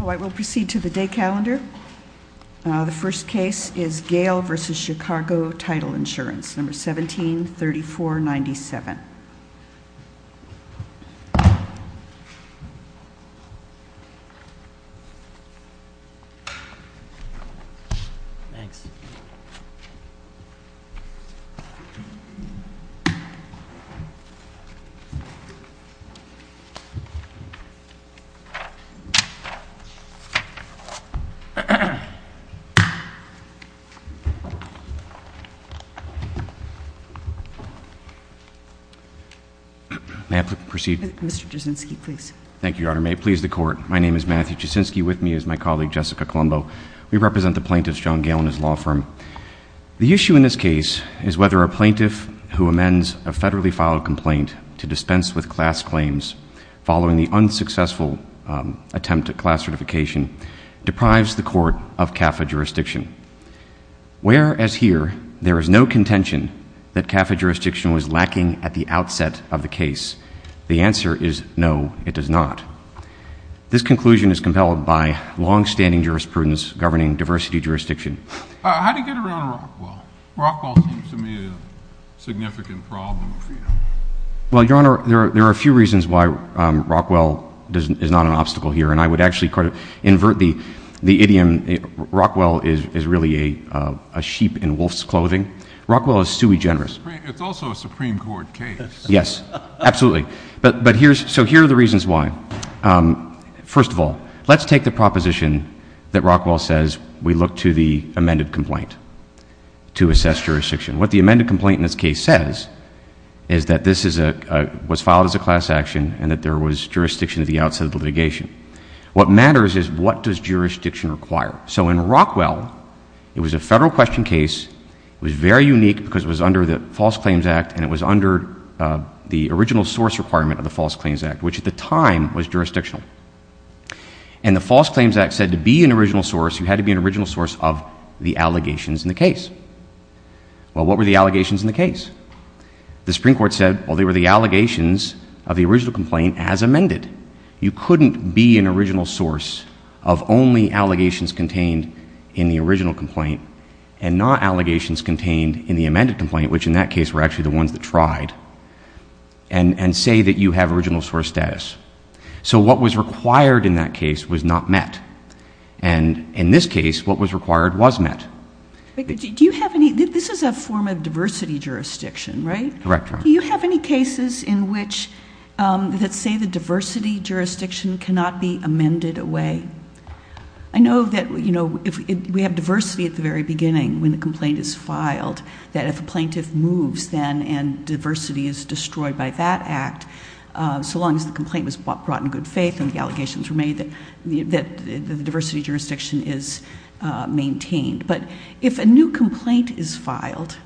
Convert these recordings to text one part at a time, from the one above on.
I will proceed to the day calendar. The first case is Gale v. Chicago Title Insurance, number 173497. May I proceed? Mr. Jaczynski, please. Thank you, Your Honor. May it please the Court, my name is Matthew Jaczynski. With me is my colleague, Jessica Colombo. We represent the plaintiffs, John Gale and his law firm. The issue in this case is whether a plaintiff who amends a federally filed complaint to dispense with class claims following the unsuccessful attempt at class certification deprives the Court of CAFA jurisdiction. Where, as here, there is no contention that CAFA jurisdiction was lacking at the outset of the case, the answer is no, it does not. This conclusion is compelled by longstanding jurisprudence governing diversity jurisdiction. How do you get around Rockwell? Rockwell seems to me a significant problem for you. Well, Your Honor, there are a few reasons why Rockwell is not an obstacle here, and I would actually kind of invert the idiom. Rockwell is really a sheep in wolf's clothing. Rockwell is sui generis. It's also a Supreme Court case. Yes, absolutely. So here are the reasons why. First of all, let's take the proposition that Rockwell says we look to the amended complaint to assess jurisdiction. What the amended complaint in this case says is that this was filed as a class action and that there was jurisdiction at the outset of the litigation. What matters is what does jurisdiction require? So in Rockwell, it was a federal question case. It was very unique because it was under the False Claims Act, and it was under the original source requirement of the False Claims Act, which at the time was jurisdictional. And the False Claims Act said to be an original source, you had to be an original source of the allegations in the case. Well, what were the allegations in the case? The Supreme Court said, well, they were the allegations of the original complaint as amended. You couldn't be an original source of only allegations contained in the original complaint and not allegations contained in the amended complaint, which in that case were actually the ones that tried, and say that you have original source status. So what was required in that case was not met. And in this case, what was required was met. Do you have any – this is a form of diversity jurisdiction, right? Correct, Your Honor. Do you have any cases in which that say the diversity jurisdiction cannot be amended away? I know that, you know, we have diversity at the very beginning when the complaint is filed, that if a plaintiff moves then and diversity is destroyed by that act, so long as the complaint was brought in good faith and the allegations were made that the diversity jurisdiction is maintained. But if a new complaint is filed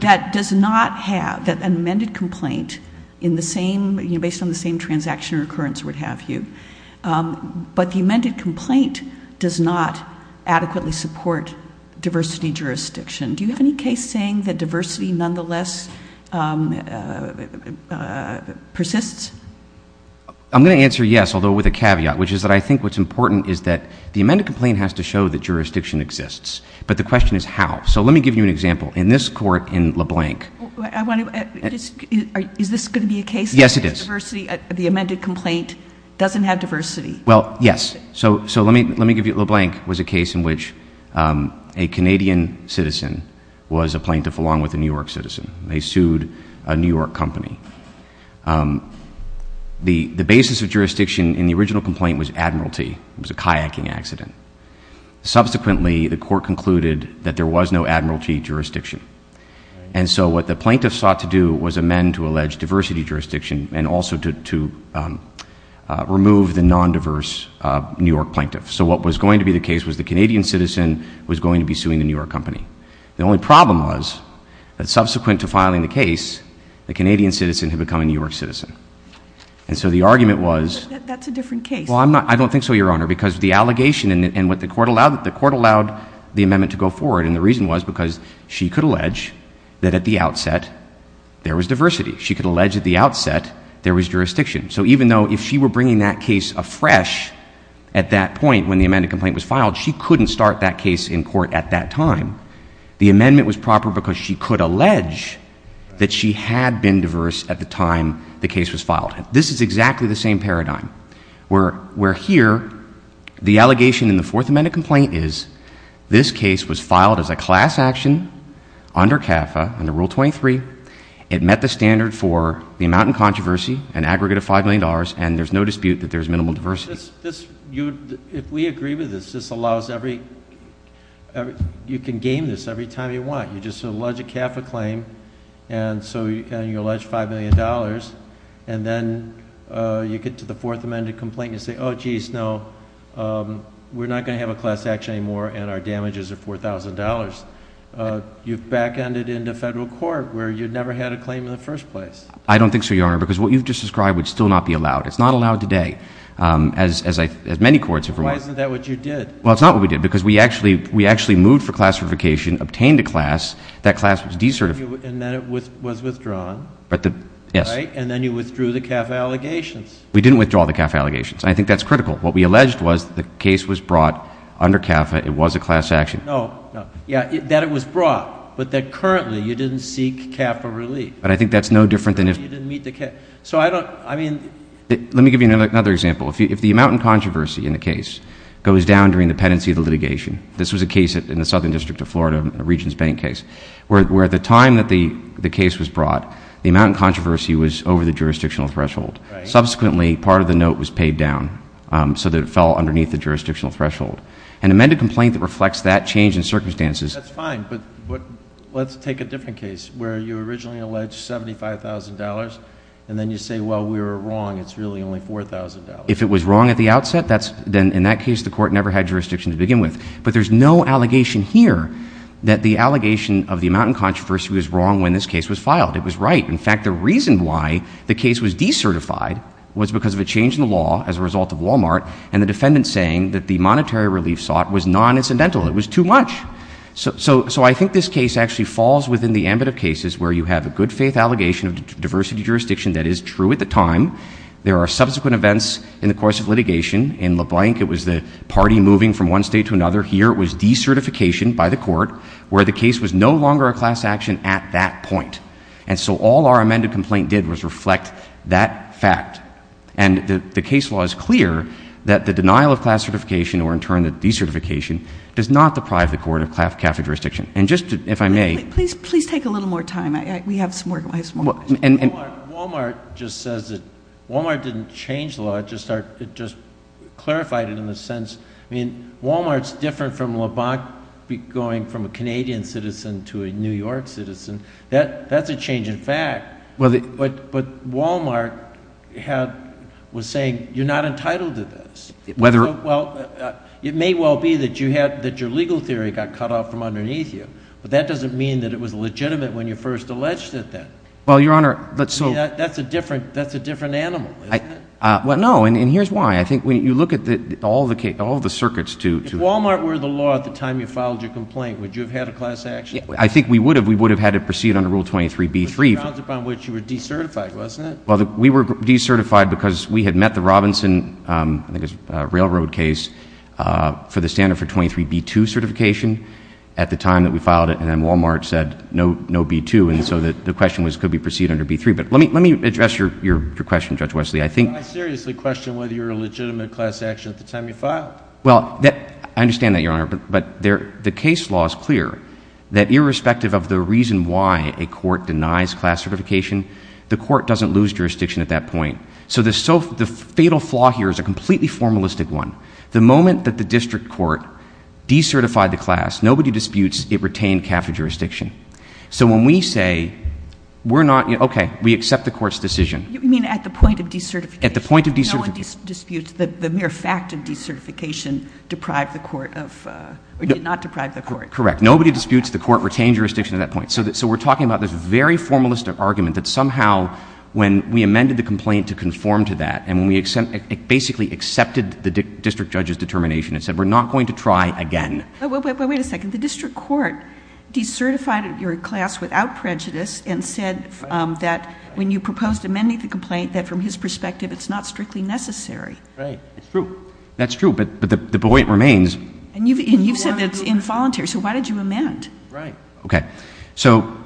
that does not have – that an amended complaint in the same, you know, based on the same transaction or occurrence would have you, but the amended complaint does not adequately support diversity jurisdiction, do you have any case saying that diversity nonetheless persists? I'm going to answer yes, although with a caveat, which is that I think what's important is that the amended complaint has to show that jurisdiction exists. But the question is how. So let me give you an example. In this court in LeBlanc – I want to – is this going to be a case that diversity – Yes, it is. The amended complaint doesn't have diversity. Well, yes. So let me give you – LeBlanc was a case in which a Canadian citizen was a plaintiff along with a New York citizen. They sued a New York company. The basis of jurisdiction in the original complaint was admiralty. It was a kayaking accident. Subsequently, the court concluded that there was no admiralty jurisdiction. And so what the plaintiff sought to do was amend to allege diversity jurisdiction and also to remove the non-diverse New York plaintiff. So what was going to be the case was the Canadian citizen was going to be suing the New York company. The only problem was that subsequent to filing the case, the Canadian citizen had become a New York citizen. And so the argument was – But that's a different case. Well, I'm not – I don't think so, Your Honor, because the allegation and what the court allowed – the court allowed the amendment to go forward, and the reason was because she could allege that at the outset there was diversity. She could allege at the outset there was jurisdiction. So even though if she were bringing that case afresh at that point when the amended complaint was filed, she couldn't start that case in court at that time. The amendment was proper because she could allege that she had been diverse at the time the case was filed. This is exactly the same paradigm, where here the allegation in the Fourth Amendment complaint is this case was filed as a class action under CAFA, under Rule 23. It met the standard for the amount in controversy, an aggregate of $5 million, and there's no dispute that there's minimal diversity. If we agree with this, this allows every – you can game this every time you want. You just allege a CAFA claim, and you allege $5 million, and then you get to the Fourth Amendment complaint and you say, oh, geez, no, we're not going to have a class action anymore, and our damages are $4,000. You've back-ended into federal court where you never had a claim in the first place. I don't think so, Your Honor, because what you've just described would still not be allowed. It's not allowed today, as many courts have reminded us. Why isn't that what you did? Well, it's not what we did because we actually moved for class certification, obtained a class. That class was de-certified. And then it was withdrawn, right? Yes. And then you withdrew the CAFA allegations. We didn't withdraw the CAFA allegations, and I think that's critical. What we alleged was the case was brought under CAFA. It was a class action. No, no. Yeah, that it was brought, but that currently you didn't seek CAFA relief. But I think that's no different than if – You didn't meet the – so I don't – I mean – Let me give you another example. If the amount in controversy in the case goes down during the pendency of the litigation, this was a case in the Southern District of Florida, a Regents Bank case, where at the time that the case was brought, the amount in controversy was over the jurisdictional threshold. Subsequently, part of the note was paid down so that it fell underneath the jurisdictional threshold. An amended complaint that reflects that change in circumstances – That's fine, but let's take a different case where you originally alleged $75,000, and then you say, well, we were wrong. It's really only $4,000. If it was wrong at the outset, then in that case the court never had jurisdiction to begin with. But there's no allegation here that the allegation of the amount in controversy was wrong when this case was filed. It was right. In fact, the reason why the case was decertified was because of a change in the law as a result of Walmart and the defendant saying that the monetary relief sought was non-incidental. It was too much. So I think this case actually falls within the ambit of cases where you have a good-faith allegation of diversity jurisdiction that is true at the time. There are subsequent events in the course of litigation. In LeBlanc, it was the party moving from one state to another. Here it was decertification by the court where the case was no longer a class action at that point. And so all our amended complaint did was reflect that fact. And the case law is clear that the denial of class certification, or in turn the decertification, does not deprive the court of Catholic jurisdiction. And just if I may. Please take a little more time. We have some more questions. Walmart just says that Walmart didn't change the law. It just clarified it in a sense. I mean, Walmart's different from LeBlanc going from a Canadian citizen to a New York citizen. That's a change in fact. But Walmart was saying you're not entitled to this. Well, it may well be that your legal theory got cut off from underneath you, but that doesn't mean that it was legitimate when you first alleged it then. Well, Your Honor. That's a different animal, isn't it? Well, no, and here's why. I think when you look at all the circuits to— If Walmart were the law at the time you filed your complaint, would you have had a class action? I think we would have. We would have had to proceed under Rule 23b-3. The grounds upon which you were decertified, wasn't it? Well, we were decertified because we had met the Robinson, I think it was a railroad case, for the standard for 23b-2 certification at the time that we filed it, and then Walmart said no b-2, and so the question was could we proceed under b-3. But let me address your question, Judge Wesley. I seriously question whether you were a legitimate class action at the time you filed. Well, I understand that, Your Honor. But the case law is clear that irrespective of the reason why a court denies class certification, the court doesn't lose jurisdiction at that point. So the fatal flaw here is a completely formalistic one. The moment that the district court decertified the class, nobody disputes it retained capital jurisdiction. So when we say we're not—okay, we accept the court's decision. You mean at the point of decertification? At the point of decertification. No one disputes the mere fact of decertification deprived the court of—or did not deprive the court. Correct. Nobody disputes the court retained jurisdiction at that point. So we're talking about this very formalistic argument that somehow when we amended the complaint to conform to that and when we basically accepted the district judge's determination and said we're not going to try again. Wait a second. The district court decertified your class without prejudice and said that when you proposed amending the complaint, that from his perspective it's not strictly necessary. Right. It's true. That's true, but the buoyant remains. And you've said that it's involuntary, so why did you amend? Right. Okay. So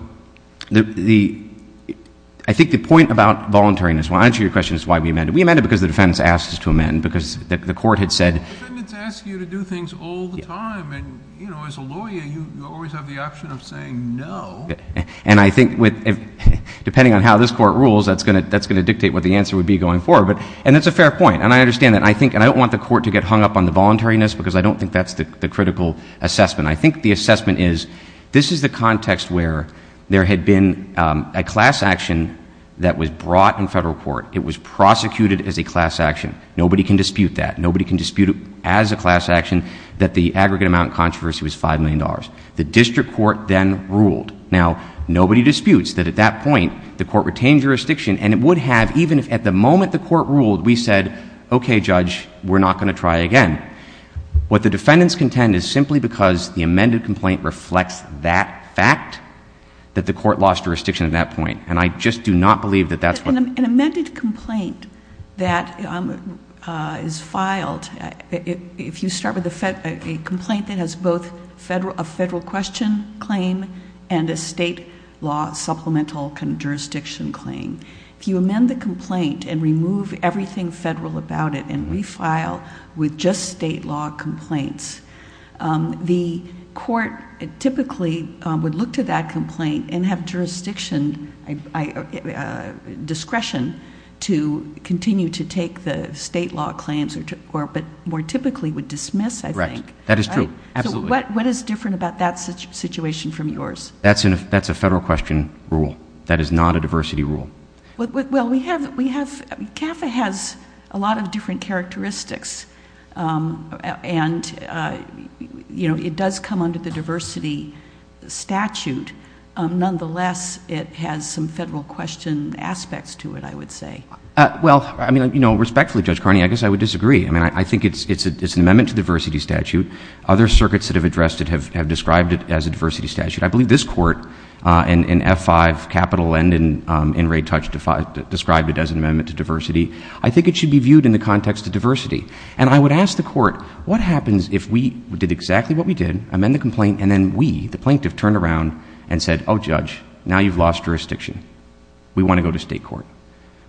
the—I think the point about voluntariness—well, I'll answer your question as to why we amended. We amended because the defendants asked us to amend, because the court had said— The defendants ask you to do things all the time, and, you know, as a lawyer, you always have the option of saying no. And I think with—depending on how this court rules, that's going to dictate what the answer would be going forward. And it's a fair point, and I understand that. I think—and I don't want the court to get hung up on the voluntariness because I don't think that's the critical assessment. I think the assessment is this is the context where there had been a class action that was brought in federal court. It was prosecuted as a class action. Nobody can dispute that. Nobody can dispute as a class action that the aggregate amount in controversy was $5 million. The district court then ruled. Now, nobody disputes that at that point the court retained jurisdiction, and it would have, even if at the moment the court ruled, we said, okay, judge, we're not going to try again. What the defendants contend is simply because the amended complaint reflects that fact that the court lost jurisdiction at that point. And I just do not believe that that's what— An amended complaint that is filed, if you start with a complaint that has both a federal question claim and a state law supplemental jurisdiction claim, if you amend the complaint and remove everything federal about it and refile with just state law complaints, the court typically would look to that complaint and have jurisdiction discretion to continue to take the state law claims, but more typically would dismiss, I think. Right. That is true. Absolutely. So what is different about that situation from yours? That's a federal question rule. That is not a diversity rule. Well, we have—CAFA has a lot of different characteristics, and, you know, it does come under the diversity statute. Nonetheless, it has some federal question aspects to it, I would say. Well, I mean, you know, respectfully, Judge Carney, I guess I would disagree. I mean, I think it's an amendment to the diversity statute. Other circuits that have addressed it have described it as a diversity statute. I believe this court in F-5 Capital and in Ray Touch described it as an amendment to diversity. I think it should be viewed in the context of diversity. And I would ask the court, what happens if we did exactly what we did, amend the complaint, and then we, the plaintiff, turned around and said, oh, Judge, now you've lost jurisdiction. We want to go to state court.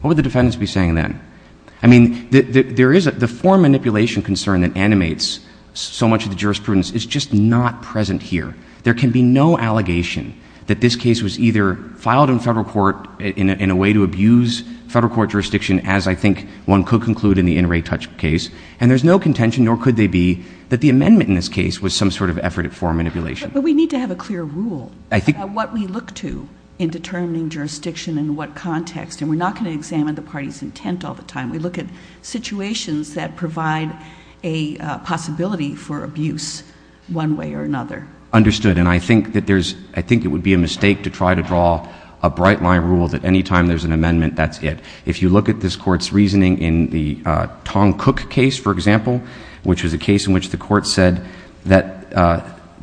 What would the defendants be saying then? I mean, there is a—the form manipulation concern that animates so much of the jurisprudence is just not present here. There can be no allegation that this case was either filed in federal court in a way to abuse federal court jurisdiction, as I think one could conclude in the inner Ray Touch case, and there's no contention, nor could there be, that the amendment in this case was some sort of effort at form manipulation. But we need to have a clear rule on what we look to in determining jurisdiction in what context, and we're not going to examine the party's intent all the time. We look at situations that provide a possibility for abuse one way or another. Understood. And I think that there's—I think it would be a mistake to try to draw a bright-line rule that any time there's an amendment, that's it. If you look at this Court's reasoning in the Tong Cook case, for example, which was a case in which the Court said that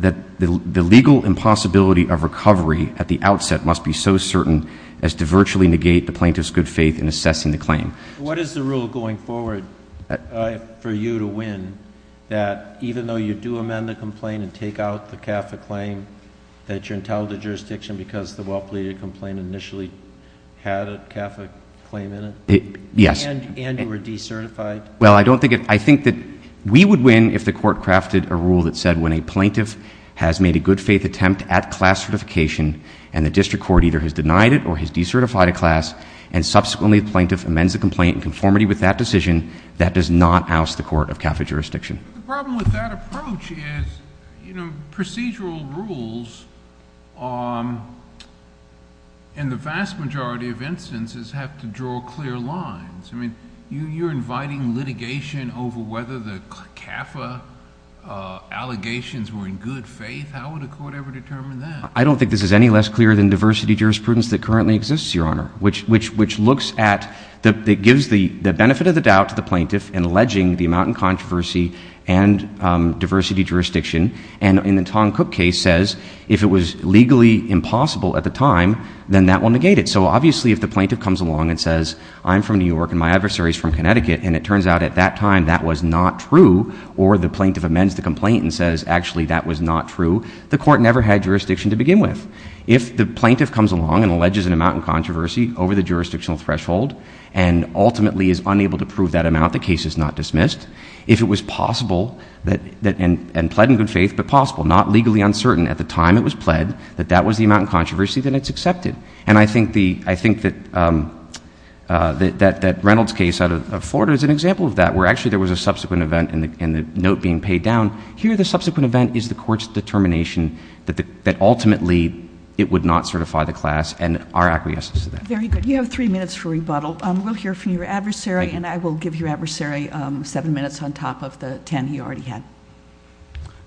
the legal impossibility of recovery at the outset must be so certain as to virtually negate the plaintiff's good faith in assessing the claim. What is the rule going forward for you to win, that even though you do amend the complaint and take out the CAFA claim, that you're entitled to jurisdiction because the well-pleaded complaint initially had a CAFA claim in it? Yes. And you were decertified? Well, I don't think it—I think that we would win if the Court crafted a rule that said when a plaintiff has made a good faith attempt at class certification and subsequently the plaintiff amends the complaint in conformity with that decision, that does not oust the Court of CAFA jurisdiction. The problem with that approach is procedural rules in the vast majority of instances have to draw clear lines. I mean, you're inviting litigation over whether the CAFA allegations were in good faith. How would a court ever determine that? I don't think this is any less clear than diversity jurisprudence that currently exists, Your Honor, which looks at—it gives the benefit of the doubt to the plaintiff in alleging the amount in controversy and diversity jurisdiction, and in the Tong Cook case says if it was legally impossible at the time, then that will negate it. So obviously if the plaintiff comes along and says, I'm from New York and my adversary is from Connecticut, and it turns out at that time that was not true, or the plaintiff amends the complaint and says actually that was not true, the Court never had jurisdiction to begin with. If the plaintiff comes along and alleges an amount in controversy over the jurisdictional threshold and ultimately is unable to prove that amount, the case is not dismissed. If it was possible and pled in good faith, but possible, not legally uncertain at the time it was pled, that that was the amount in controversy, then it's accepted. And I think that Reynolds' case out of Florida is an example of that, where actually there was a subsequent event and the note being paid down. Here the subsequent event is the Court's determination that ultimately it would not certify the class and our acquiescence to that. Very good. You have three minutes for rebuttal. We'll hear from your adversary, and I will give your adversary seven minutes on top of the ten he already had.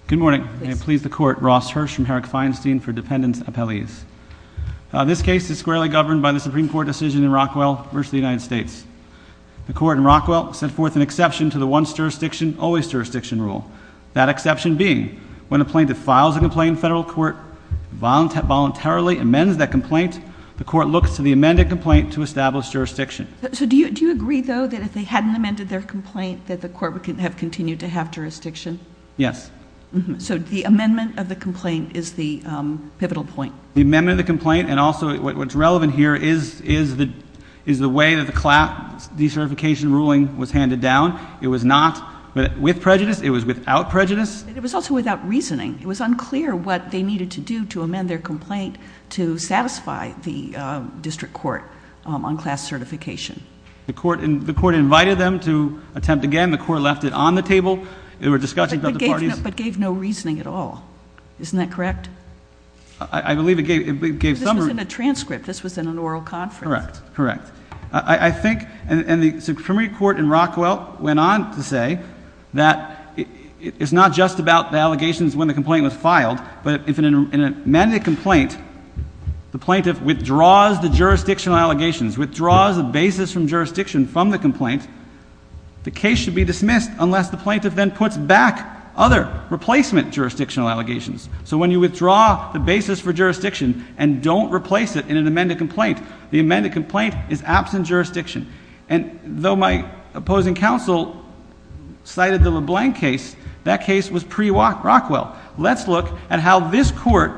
Good morning. May it please the Court. Ross Hirsch from Herrick Feinstein for dependent's appellees. This case is squarely governed by the Supreme Court decision in Rockwell versus the United States. The Court in Rockwell set forth an exception to the once-jurisdiction, always-jurisdiction rule. That exception being, when a plaintiff files a complaint in federal court, voluntarily amends that complaint, the Court looks to the amended complaint to establish jurisdiction. So do you agree, though, that if they hadn't amended their complaint that the Court would have continued to have jurisdiction? Yes. So the amendment of the complaint is the pivotal point. The amendment of the complaint, and also what's relevant here, is the way that the class decertification ruling was handed down. It was not with prejudice. It was without prejudice. And it was also without reasoning. It was unclear what they needed to do to amend their complaint to satisfy the district court on class certification. The Court invited them to attempt again. The Court left it on the table. There were discussions about the parties. But gave no reasoning at all. Isn't that correct? I believe it gave some. This was in a transcript. This was in an oral conference. Correct. Correct. I think, and the Supreme Court in Rockwell went on to say that it's not just about the allegations when the complaint was filed, but if in an amended complaint the plaintiff withdraws the jurisdictional allegations, withdraws the basis from jurisdiction from the complaint, the case should be dismissed unless the plaintiff then puts back other replacement jurisdictional allegations. So when you withdraw the basis for jurisdiction and don't replace it in an amended complaint, the amended complaint is absent jurisdiction. And though my opposing counsel cited the LeBlanc case, that case was pre-Rockwell. Let's look at how this Court,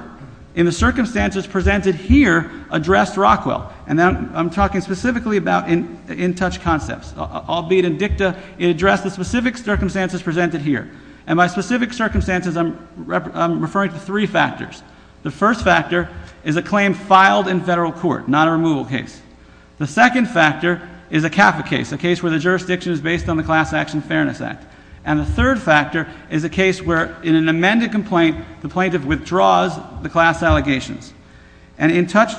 in the circumstances presented here, addressed Rockwell. And I'm talking specifically about in-touch concepts. Albeit in dicta, it addressed the specific circumstances presented here. And by specific circumstances, I'm referring to three factors. The first factor is a claim filed in federal court, not a removal case. The second factor is a CAFA case, a case where the jurisdiction is based on the Class Action Fairness Act. And the third factor is a case where in an amended complaint, the plaintiff withdraws the class allegations. And in-touch,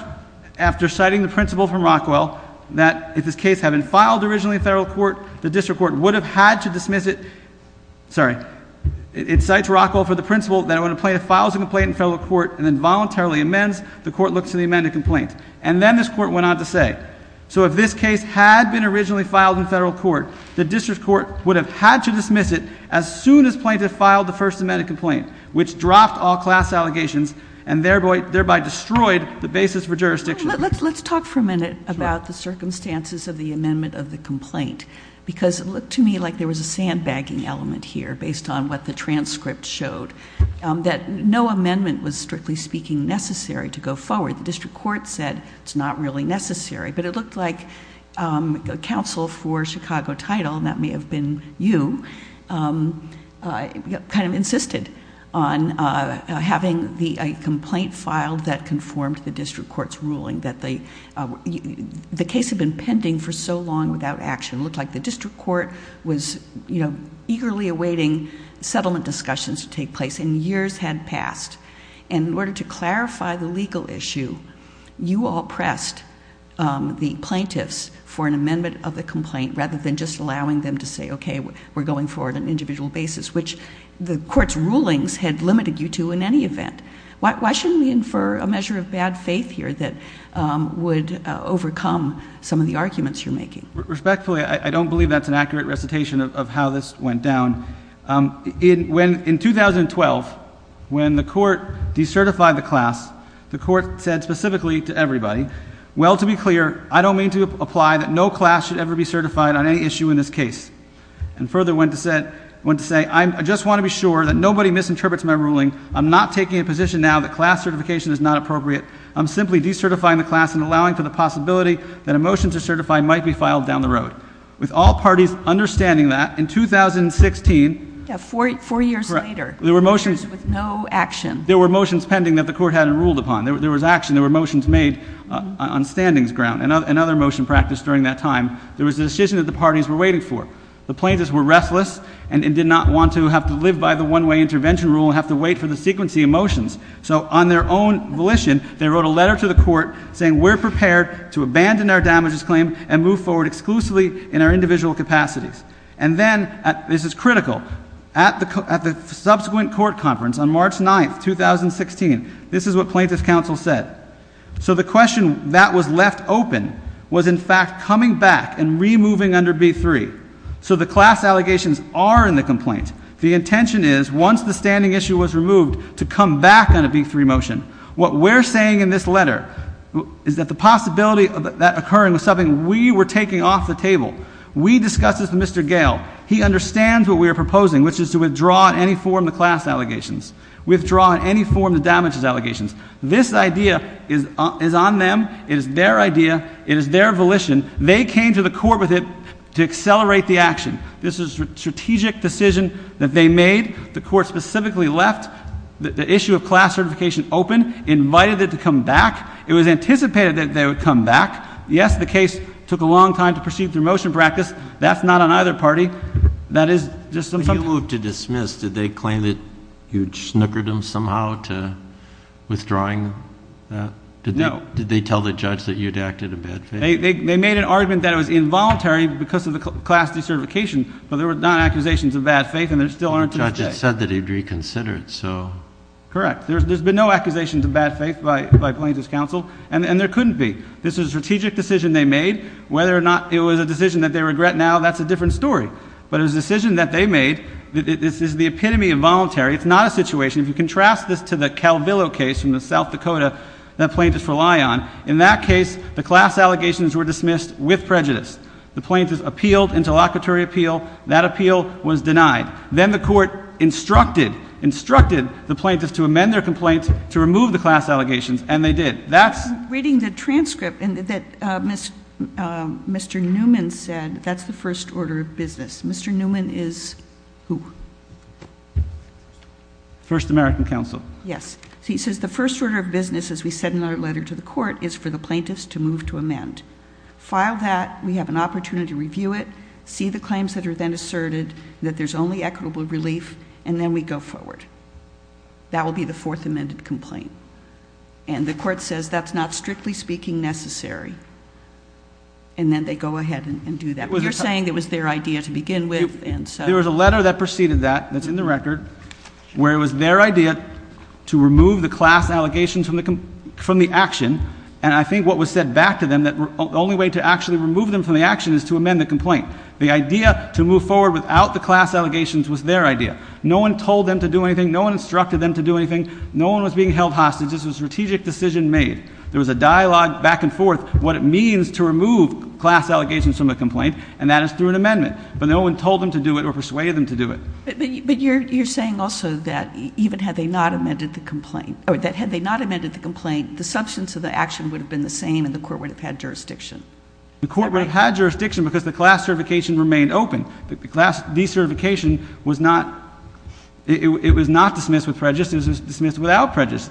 after citing the principle from Rockwell that if this case had been filed originally in federal court, the district court would have had to dismiss it. Sorry. It cites Rockwell for the principle that when a plaintiff files a complaint in federal court and then voluntarily amends, the court looks at the amended complaint. And then this Court went on to say, so if this case had been originally filed in federal court, the district court would have had to dismiss it as soon as plaintiff filed the first amended complaint, which dropped all class allegations and thereby destroyed the basis for jurisdiction. Let's talk for a minute about the circumstances of the amendment of the complaint, because it looked to me like there was a sandbagging element here based on what the transcript showed, that no amendment was, strictly speaking, necessary to go forward. The district court said it's not really necessary. But it looked like counsel for Chicago Title, and that may have been you, kind of insisted on having a complaint filed that conformed to the district court's ruling. The case had been pending for so long without action. It looked like the district court was eagerly awaiting settlement discussions to take place, and years had passed. In order to clarify the legal issue, you all pressed the plaintiffs for an amendment of the complaint, rather than just allowing them to say, okay, we're going forward on an individual basis, which the court's rulings had limited you to in any event. Why shouldn't we infer a measure of bad faith here that would overcome some of the arguments you're making? Respectfully, I don't believe that's an accurate recitation of how this went down. In 2012, when the court decertified the class, the court said specifically to everybody, well, to be clear, I don't mean to apply that no class should ever be certified on any issue in this case. And further went to say, I just want to be sure that nobody misinterprets my ruling. I'm not taking a position now that class certification is not appropriate. I'm simply decertifying the class and allowing for the possibility that a motion to certify might be filed down the road. With all parties understanding that, in 2016, Four years later, with no action. There were motions pending that the court hadn't ruled upon. There was action. There were motions made on standings ground and other motion practice during that time. There was a decision that the parties were waiting for. The plaintiffs were restless and did not want to have to live by the one-way intervention rule and have to wait for the sequencing of motions. So on their own volition, they wrote a letter to the court saying we're prepared to abandon our damages claim and move forward exclusively in our individual capacities. And then, this is critical, at the subsequent court conference on March 9th, 2016, this is what plaintiffs' counsel said. So the question that was left open was, in fact, coming back and removing under B-3. So the class allegations are in the complaint. The intention is, once the standing issue was removed, to come back on a B-3 motion. What we're saying in this letter is that the possibility of that occurring was something we were taking off the table. We discussed this with Mr. Gale. He understands what we are proposing, which is to withdraw in any form the class allegations. Withdraw in any form the damages allegations. This idea is on them. It is their idea. It is their volition. They came to the court with it to accelerate the action. This is a strategic decision that they made. The court specifically left the issue of class certification open, invited it to come back. It was anticipated that they would come back. Yes, the case took a long time to proceed through motion practice. That's not on either party. That is just something. When they moved to dismiss, did they claim that you'd snookered them somehow to withdrawing that? No. Did they tell the judge that you'd acted in bad faith? They made an argument that it was involuntary because of the class decertification, but there were non-accusations of bad faith and there still aren't today. The judge had said that he'd reconsider it, so. Correct. There's been no accusations of bad faith by Plaintiff's counsel, and there couldn't be. This was a strategic decision they made. Whether or not it was a decision that they regret now, that's a different story. But it was a decision that they made. This is the epitome of voluntary. It's not a situation. If you contrast this to the Calvillo case from the South Dakota that plaintiffs rely on, in that case, the class allegations were dismissed with prejudice. The plaintiffs appealed into locatory appeal. That appeal was denied. Then the court instructed, instructed the plaintiffs to amend their complaints to remove the class allegations, and they did. Reading the transcript, Mr. Newman said that's the first order of business. Mr. Newman is who? First American Counsel. Yes. He says the first order of business, as we said in our letter to the court, is for the plaintiffs to move to amend. File that. We have an opportunity to review it. See the claims that are then asserted, that there's only equitable relief, and then we go forward. That will be the fourth amended complaint. And the court says that's not, strictly speaking, necessary. And then they go ahead and do that. You're saying it was their idea to begin with. There was a letter that preceded that that's in the record where it was their idea to remove the class allegations from the action. And I think what was said back to them that the only way to actually remove them from the action is to amend the complaint. The idea to move forward without the class allegations was their idea. No one told them to do anything. No one instructed them to do anything. No one was being held hostage. This was a strategic decision made. There was a dialogue back and forth what it means to remove class allegations from a complaint, and that is through an amendment. But no one told them to do it or persuaded them to do it. But you're saying also that even had they not amended the complaint, or that had they not amended the complaint, the substance of the action would have been the same and the court would have had jurisdiction. The court would have had jurisdiction because the class certification remained open. The class decertification was not, it was not dismissed with prejudice. It was dismissed without prejudice.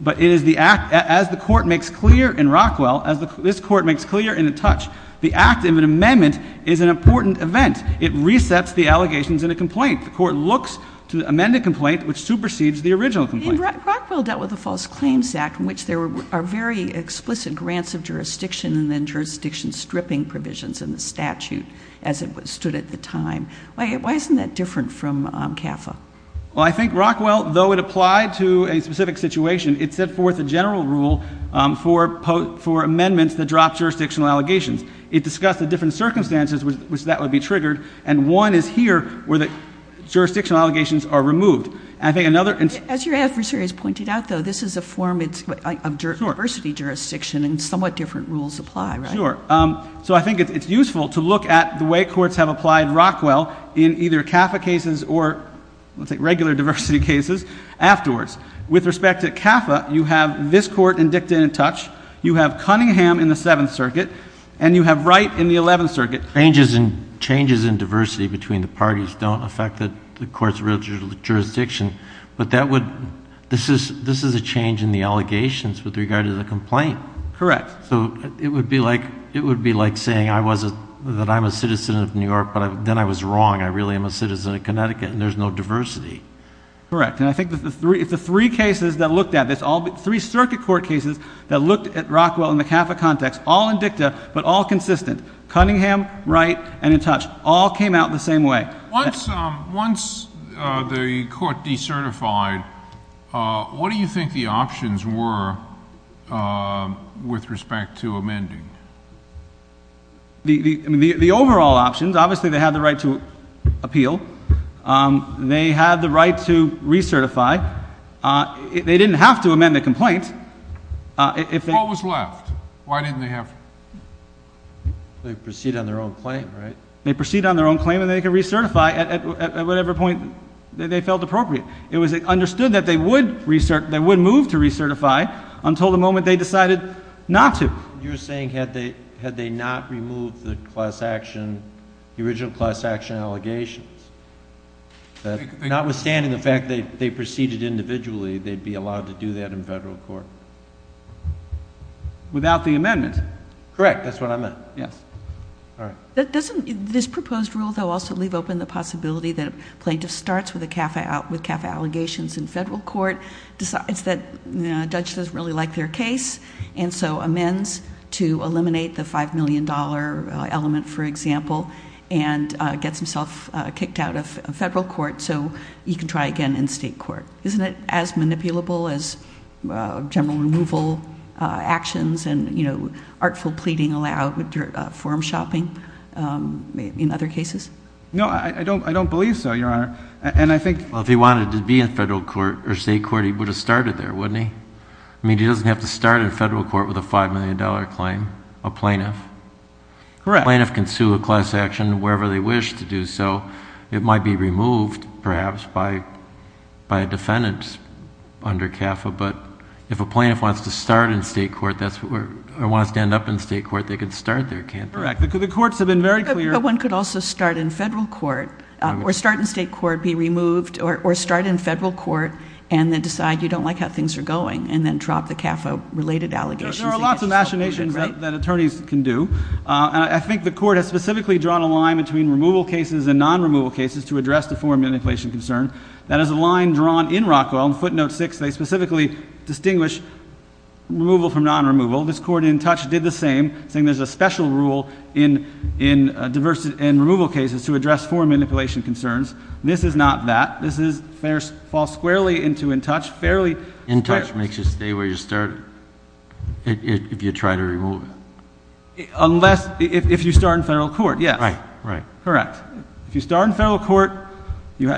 But it is the act, as the court makes clear in Rockwell, as this court makes clear in the touch, the act of an amendment is an important event. It resets the allegations in a complaint. The court looks to amend a complaint which supersedes the original complaint. And Rockwell dealt with the False Claims Act in which there are very explicit grants of jurisdiction and then jurisdiction stripping provisions in the statute as it stood at the time. Why isn't that different from CAFA? Well, I think Rockwell, though it applied to a specific situation, it set forth a general rule for amendments that drop jurisdictional allegations. It discussed the different circumstances which that would be triggered, and one is here where the jurisdictional allegations are removed. As your adversary has pointed out, though, this is a form of diversity jurisdiction and somewhat different rules apply, right? Sure. So I think it's useful to look at the way courts have applied Rockwell in either CAFA cases or, let's say, regular diversity cases afterwards. With respect to CAFA, you have this court and Dick didn't touch. You have Cunningham in the Seventh Circuit, and you have Wright in the Eleventh Circuit. Changes in diversity between the parties don't affect the court's real jurisdiction, but this is a change in the allegations with regard to the complaint. Correct. So it would be like saying that I'm a citizen of New York, but then I was wrong. I really am a citizen of Connecticut, and there's no diversity. Correct. And I think that the three cases that looked at this, all three circuit court cases that looked at Rockwell in the CAFA context, all in dicta but all consistent, Cunningham, Wright, and in touch, all came out the same way. Once the court decertified, what do you think the options were with respect to amending? The overall options, obviously they had the right to appeal. They had the right to recertify. They didn't have to amend the complaint. What was left? Why didn't they have to? They could proceed on their own claim, right? They could proceed on their own claim, and they could recertify at whatever point they felt appropriate. It was understood that they would move to recertify until the moment they decided not to. You're saying had they not removed the original class action allegations, that notwithstanding the fact that they proceeded individually, they'd be allowed to do that in federal court? Without the amendment. Correct. That's what I meant. Yes. All right. This proposed rule, though, also leave open the possibility that a plaintiff starts with CAFA allegations in federal court, decides that a judge doesn't really like their case, and so amends to eliminate the $5 million element, for example, and gets himself kicked out of federal court so he can try again in state court. Isn't it as manipulable as general removal actions and artful pleading allowed with forum shopping in other cases? No, I don't believe so, Your Honor. If he wanted to be in federal court or state court, he would have started there, wouldn't he? He doesn't have to start in federal court with a $5 million claim, a plaintiff. Correct. If a plaintiff can sue a class action wherever they wish to do so, it might be removed, perhaps, by a defendant under CAFA. But if a plaintiff wants to start in state court, or wants to end up in state court, they could start there, can't they? Correct. The courts have been very clear. But one could also start in federal court, or start in state court, be removed, or start in federal court, and then decide you don't like how things are going, and then drop the CAFA-related allegations. There are lots of machinations that attorneys can do. I think the court has specifically drawn a line between removal cases and non-removal cases to address the forum manipulation concern. That is a line drawn in Rockwell in footnote 6. They specifically distinguish removal from non-removal. This court in Touch did the same, saying there's a special rule in removal cases to address forum manipulation concerns. This is not that. This falls squarely into in Touch. In Touch makes you stay where you started if you try to remove it. Unless if you start in federal court, yes. Right, right. Correct. If you start in federal court, you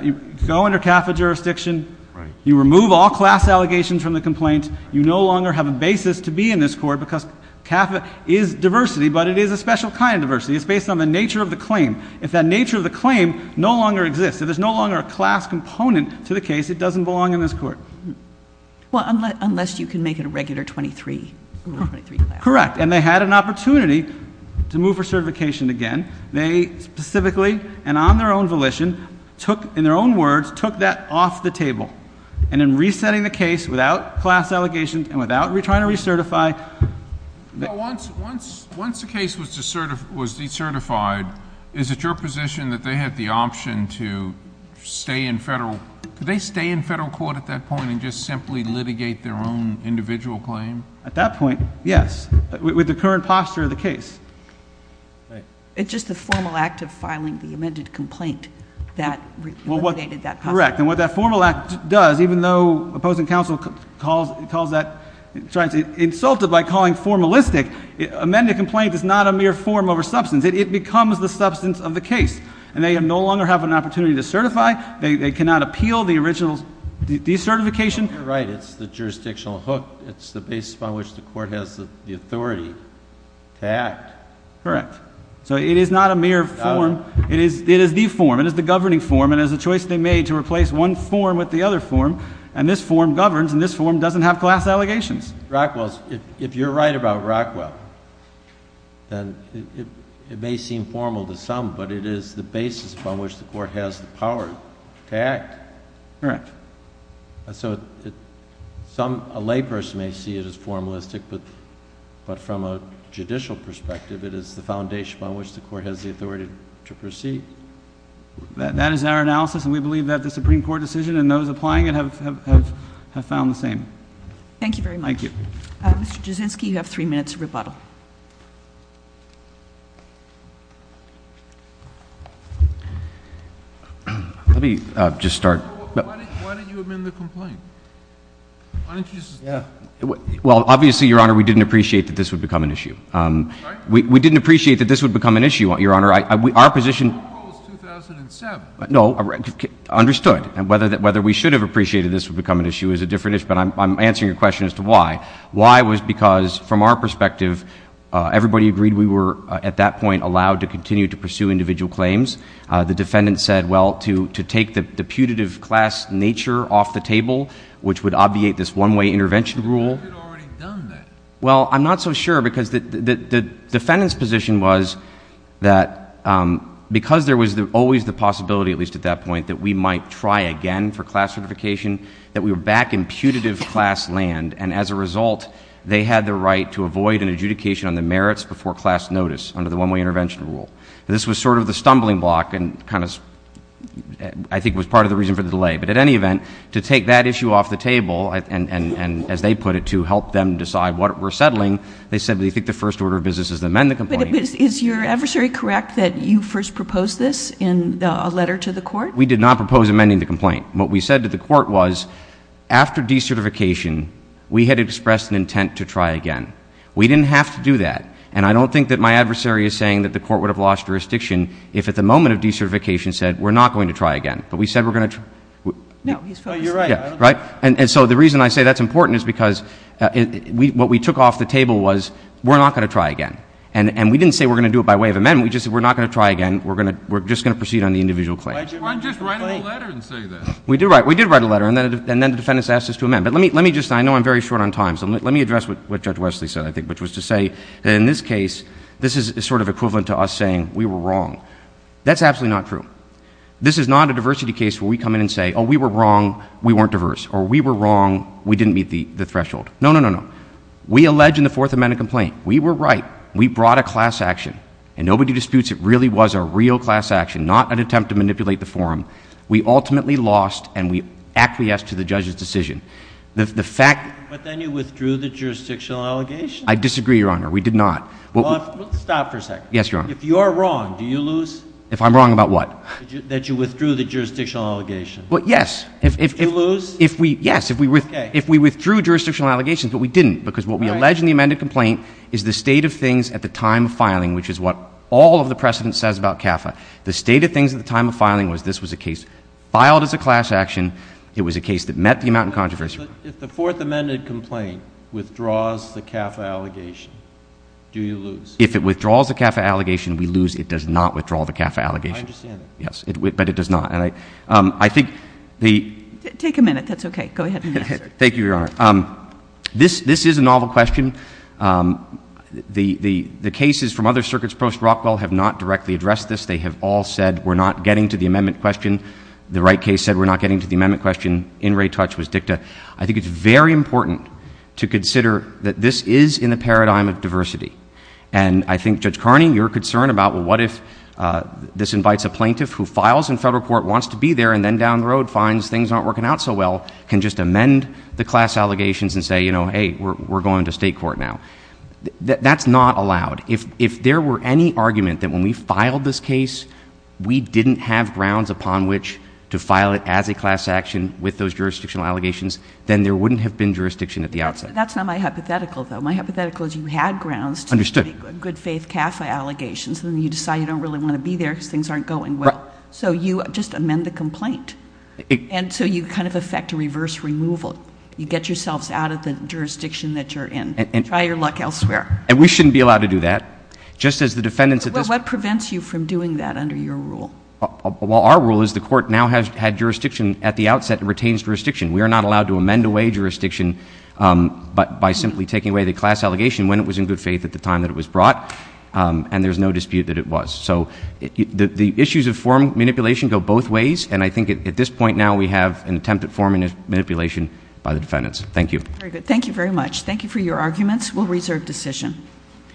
go under CAFA jurisdiction, you remove all class allegations from the complaint, you no longer have a basis to be in this court because CAFA is diversity, but it is a special kind of diversity. It's based on the nature of the claim. If that nature of the claim no longer exists, if there's no longer a class component to the case, it doesn't belong in this court. Well, unless you can make it a regular 23 class. Correct, and they had an opportunity to move for certification again. They specifically and on their own volition took, in their own words, took that off the table. And in resetting the case without class allegations and without trying to recertify. Once the case was decertified, is it your position that they had the option to stay in federal? Could they stay in federal court at that point and just simply litigate their own individual claim? At that point, yes, with the current posture of the case. It's just the formal act of filing the amended complaint that litigated that posture. Correct, and what that formal act does, even though opposing counsel calls that, tries to insult it by calling formalistic, amended complaint is not a mere form over substance. It becomes the substance of the case, and they no longer have an opportunity to certify. They cannot appeal the original decertification. You're right. It's the jurisdictional hook. It's the basis upon which the court has the authority to act. Correct. So it is not a mere form. It is the form. It is the governing form, and it is a choice they made to replace one form with the other form. And this form governs, and this form doesn't have class allegations. If you're right about Rockwell, then it may seem formal to some, but it is the basis upon which the court has the power to act. Correct. So a layperson may see it as formalistic, but from a judicial perspective, it is the foundation upon which the court has the authority to proceed. That is our analysis, and we believe that the Supreme Court decision and those applying it have found the same. Thank you very much. Thank you. Mr. Jasinski, you have three minutes of rebuttal. Let me just start. Why didn't you amend the complaint? Why didn't you just? Well, obviously, Your Honor, we didn't appreciate that this would become an issue. Right. We didn't appreciate that this would become an issue, Your Honor. Our position. The rule was 2007. No. Understood. Whether we should have appreciated this would become an issue is a different issue, but I'm answering your question as to why. Why was because, from our perspective, everybody agreed we were, at that point, allowed to continue to pursue individual claims. The defendant said, well, to take the putative class nature off the table, which would obviate this one-way intervention rule. But you had already done that. Well, I'm not so sure because the defendant's position was that because there was always the possibility, at least at that point, that we might try again for class certification, that we were back in putative class land, and as a result, they had the right to avoid an adjudication on the merits before class notice under the one-way intervention rule. This was sort of the stumbling block and kind of, I think, was part of the reason for the delay. But at any event, to take that issue off the table and, as they put it, to help them decide what we're settling, they said they think the first order of business is to amend the complaint. But is your adversary correct that you first proposed this in a letter to the court? We did not propose amending the complaint. What we said to the court was, after decertification, we had expressed an intent to try again. We didn't have to do that. And I don't think that my adversary is saying that the court would have lost jurisdiction if, at the moment of decertification, said, we're not going to try again. But we said we're going to try. No, he's fair. You're right. Right? And so the reason I say that's important is because what we took off the table was, we're not going to try again. And we didn't say we're going to do it by way of amendment. We just said we're not going to try again. We're just going to proceed on the individual claim. Why didn't you just write a letter and say that? We did write a letter, and then the defendants asked us to amend. Which was to say, in this case, this is sort of equivalent to us saying we were wrong. That's absolutely not true. This is not a diversity case where we come in and say, oh, we were wrong, we weren't diverse. Or we were wrong, we didn't meet the threshold. No, no, no, no. We allege in the Fourth Amendment complaint. We were right. We brought a class action. And nobody disputes it really was a real class action, not an attempt to manipulate the forum. We ultimately lost, and we acquiesced to the judge's decision. The fact — But then you withdrew the jurisdictional allegation. I disagree, Your Honor. We did not. Stop for a second. Yes, Your Honor. If you're wrong, do you lose? If I'm wrong about what? That you withdrew the jurisdictional allegation. Yes. Did you lose? Yes. Okay. If we withdrew jurisdictional allegations, but we didn't. Because what we allege in the amended complaint is the state of things at the time of filing, which is what all of the precedent says about CAFA. The state of things at the time of filing was this was a case filed as a class action. It was a case that met the amount of controversy. If the Fourth Amendment complaint withdraws the CAFA allegation, do you lose? If it withdraws the CAFA allegation, we lose. It does not withdraw the CAFA allegation. I understand that. Yes. But it does not. And I think the — Take a minute. That's okay. Go ahead and answer. Thank you, Your Honor. This is a novel question. The cases from other circuits post-Rockwell have not directly addressed this. They have all said we're not getting to the amendment question. The Wright case said we're not getting to the amendment question. In re touch was dicta. I think it's very important to consider that this is in the paradigm of diversity. And I think, Judge Carney, your concern about what if this invites a plaintiff who files in federal court, wants to be there, and then down the road finds things aren't working out so well, can just amend the class allegations and say, you know, hey, we're going to state court now. That's not allowed. If there were any argument that when we filed this case, we didn't have grounds upon which to file it as a class action with those jurisdictional allegations, then there wouldn't have been jurisdiction at the outset. That's not my hypothetical, though. My hypothetical is you had grounds to make good-faith CAFA allegations, and then you decide you don't really want to be there because things aren't going well. So you just amend the complaint. And so you kind of effect a reverse removal. You get yourselves out of the jurisdiction that you're in and try your luck elsewhere. And we shouldn't be allowed to do that. What prevents you from doing that under your rule? Well, our rule is the court now has jurisdiction at the outset and retains jurisdiction. We are not allowed to amend away jurisdiction by simply taking away the class allegation when it was in good faith at the time that it was brought, and there's no dispute that it was. So the issues of form manipulation go both ways, and I think at this point now we have an attempt at form manipulation by the defendants. Thank you. Very good. Thank you very much. Thank you for your arguments. We'll reserve decision.